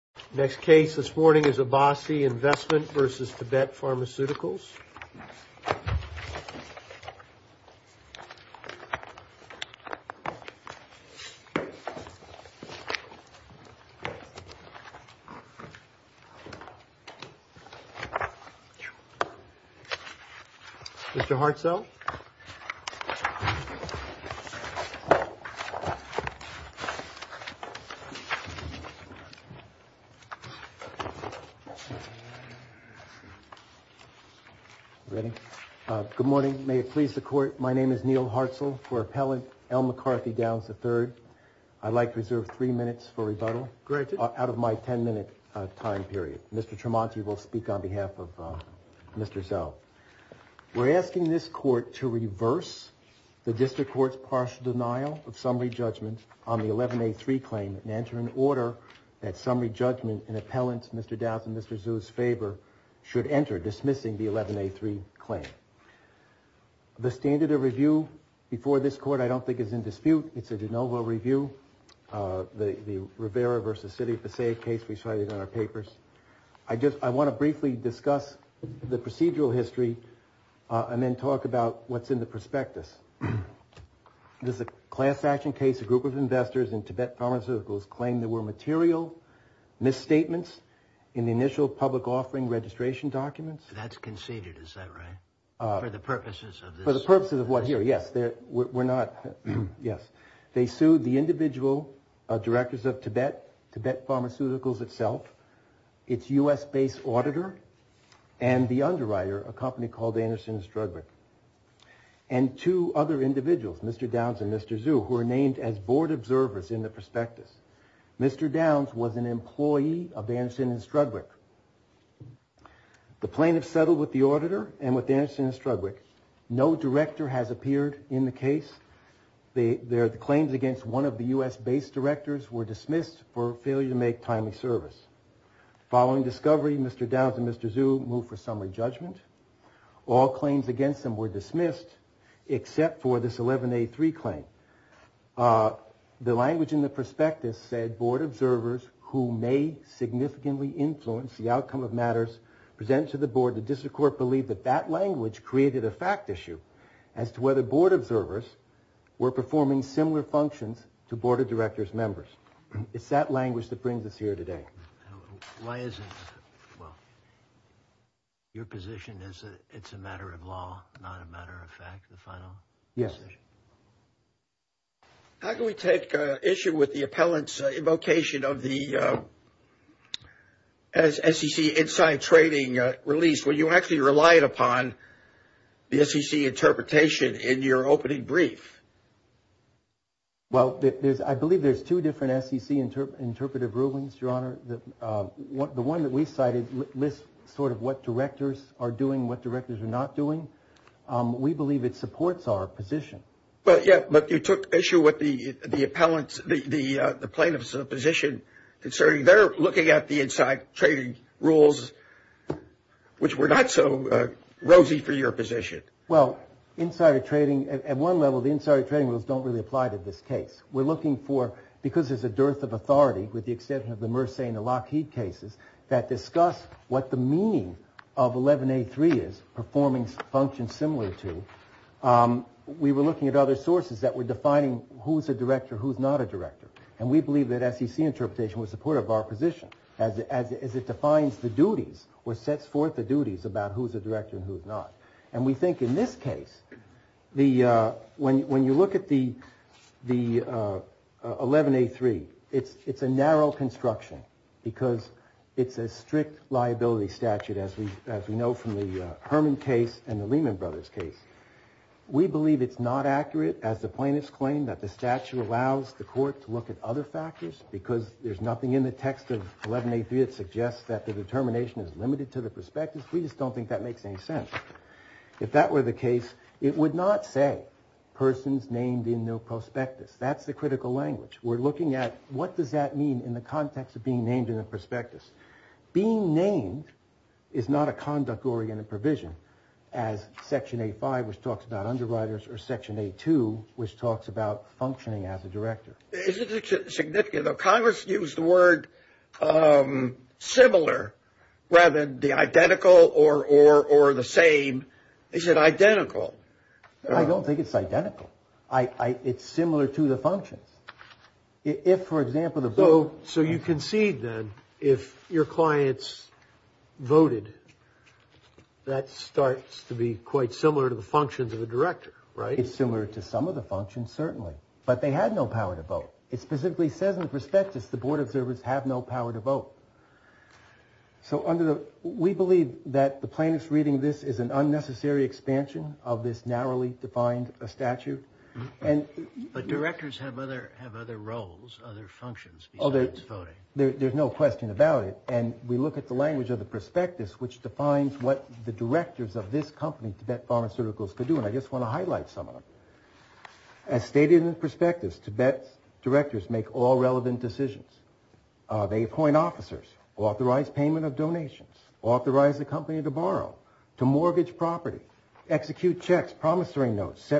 Next case this morning is Abasi Investment v. Tibet Pharmaceuticals. Mr. Hartzell. Good morning. May it please the Court, my name is Neil Hartzell. For Appellant L. McCarthy Downs III, I'd like to reserve three minutes for rebuttal out of my ten minute time period. Mr. Tremonti will speak on behalf of Mr. Zell. We're asking this Court to reverse the District Court's partial denial of summary judgment on the 11A3 claim and enter an order that summary judgment in Appellant Mr. Downs and Mr. Zell's favor should enter dismissing the 11A3 claim. The standard of review before this Court I don't think is in dispute. It's a de novo review. The Rivera v. City of Passaic case we cited in our papers. I want to briefly discuss the procedural history and then talk about what's in the prospectus. There's a class action case a group of investors in Tibet Pharmaceuticals claimed there were material misstatements in the initial public offering registration documents. That's conceded, is that right? For the purposes of this? Yes. They sued the individual directors of Tibet, Tibet Pharmaceuticals itself, its U.S. based auditor, and the underwriter, a company called Anderson & Strudwick. And two other individuals, Mr. Downs and Mr. Zhu, who are named as board observers in the prospectus. Mr. Downs was an employee of Anderson & Strudwick. The plaintiffs settled with the auditor and with Anderson & Strudwick. No director has appeared in the case. The claims against one of the U.S. based directors were dismissed for failure to make timely service. Following discovery, Mr. Downs and Mr. Zhu moved for summary judgment. All claims against them were dismissed except for this 11A3 claim. The language in the prospectus said board observers who may significantly influence the outcome of matters presented to the board, the district court believed that that language created a fact issue as to whether board observers were performing similar functions to board of directors members. It's that language that brings us here today. Why is it, well, your position is that it's a matter of law, not a matter of fact, the final? Yes. How can we take issue with the appellant's invocation of the SEC inside trading release, where you actually relied upon the SEC interpretation in your opening brief? Well, I believe there's two different SEC interpretive rulings, Your Honor. The one that we cited lists sort of what directors are doing, what directors are not doing. We believe it supports our position. But you took issue with the plaintiff's position concerning their looking at the inside trading rules, which were not so rosy for your position. Well, inside trading, at one level, the inside trading rules don't really apply to this case. We're looking for, because there's a dearth of authority with the exception of the Mersey and the Lockheed cases that discuss what the meaning of 11A3 is, performing functions similar to, we were looking at other sources that were defining who's a director, who's not a director. And we believe that SEC interpretation was supportive of our position, as it defines the duties or sets forth the duties about who's a director and who's not. And we think in this case, when you look at the 11A3, it's a narrow construction, because it's a strict liability statute, as we know from the Herman case and the Lehman Brothers case. We believe it's not accurate, as the plaintiffs claim, that the statute allows the court to look at other factors, because there's nothing in the text of 11A3 that suggests that the determination is limited to the prospectus. We just don't think that makes any sense. If that were the case, it would not say persons named in the prospectus. That's the critical language. We're looking at what does that mean in the context of being named in the prospectus. Being named is not a conduct-oriented provision, as Section A5, which talks about underwriters, or Section A2, which talks about functioning as a director. Isn't it significant, though? Congress used the word similar rather than the identical or the same. Is it identical? I don't think it's identical. It's similar to the functions. If, for example, the vote. So you concede, then, if your clients voted, that starts to be quite similar to the functions of a director, right? It's similar to some of the functions, certainly. But they had no power to vote. It specifically says in the prospectus the board observers have no power to vote. So we believe that the plaintiff's reading of this is an unnecessary expansion of this narrowly defined statute. But directors have other roles, other functions, besides voting. There's no question about it. And we look at the language of the prospectus, which defines what the directors of this company, Tibet Pharmaceuticals, could do. And I just want to highlight some of them. As stated in the prospectus, Tibet's directors make all relevant decisions. They appoint officers, authorize payment of donations, authorize the company to borrow, to mortgage property, execute checks, promissory notes,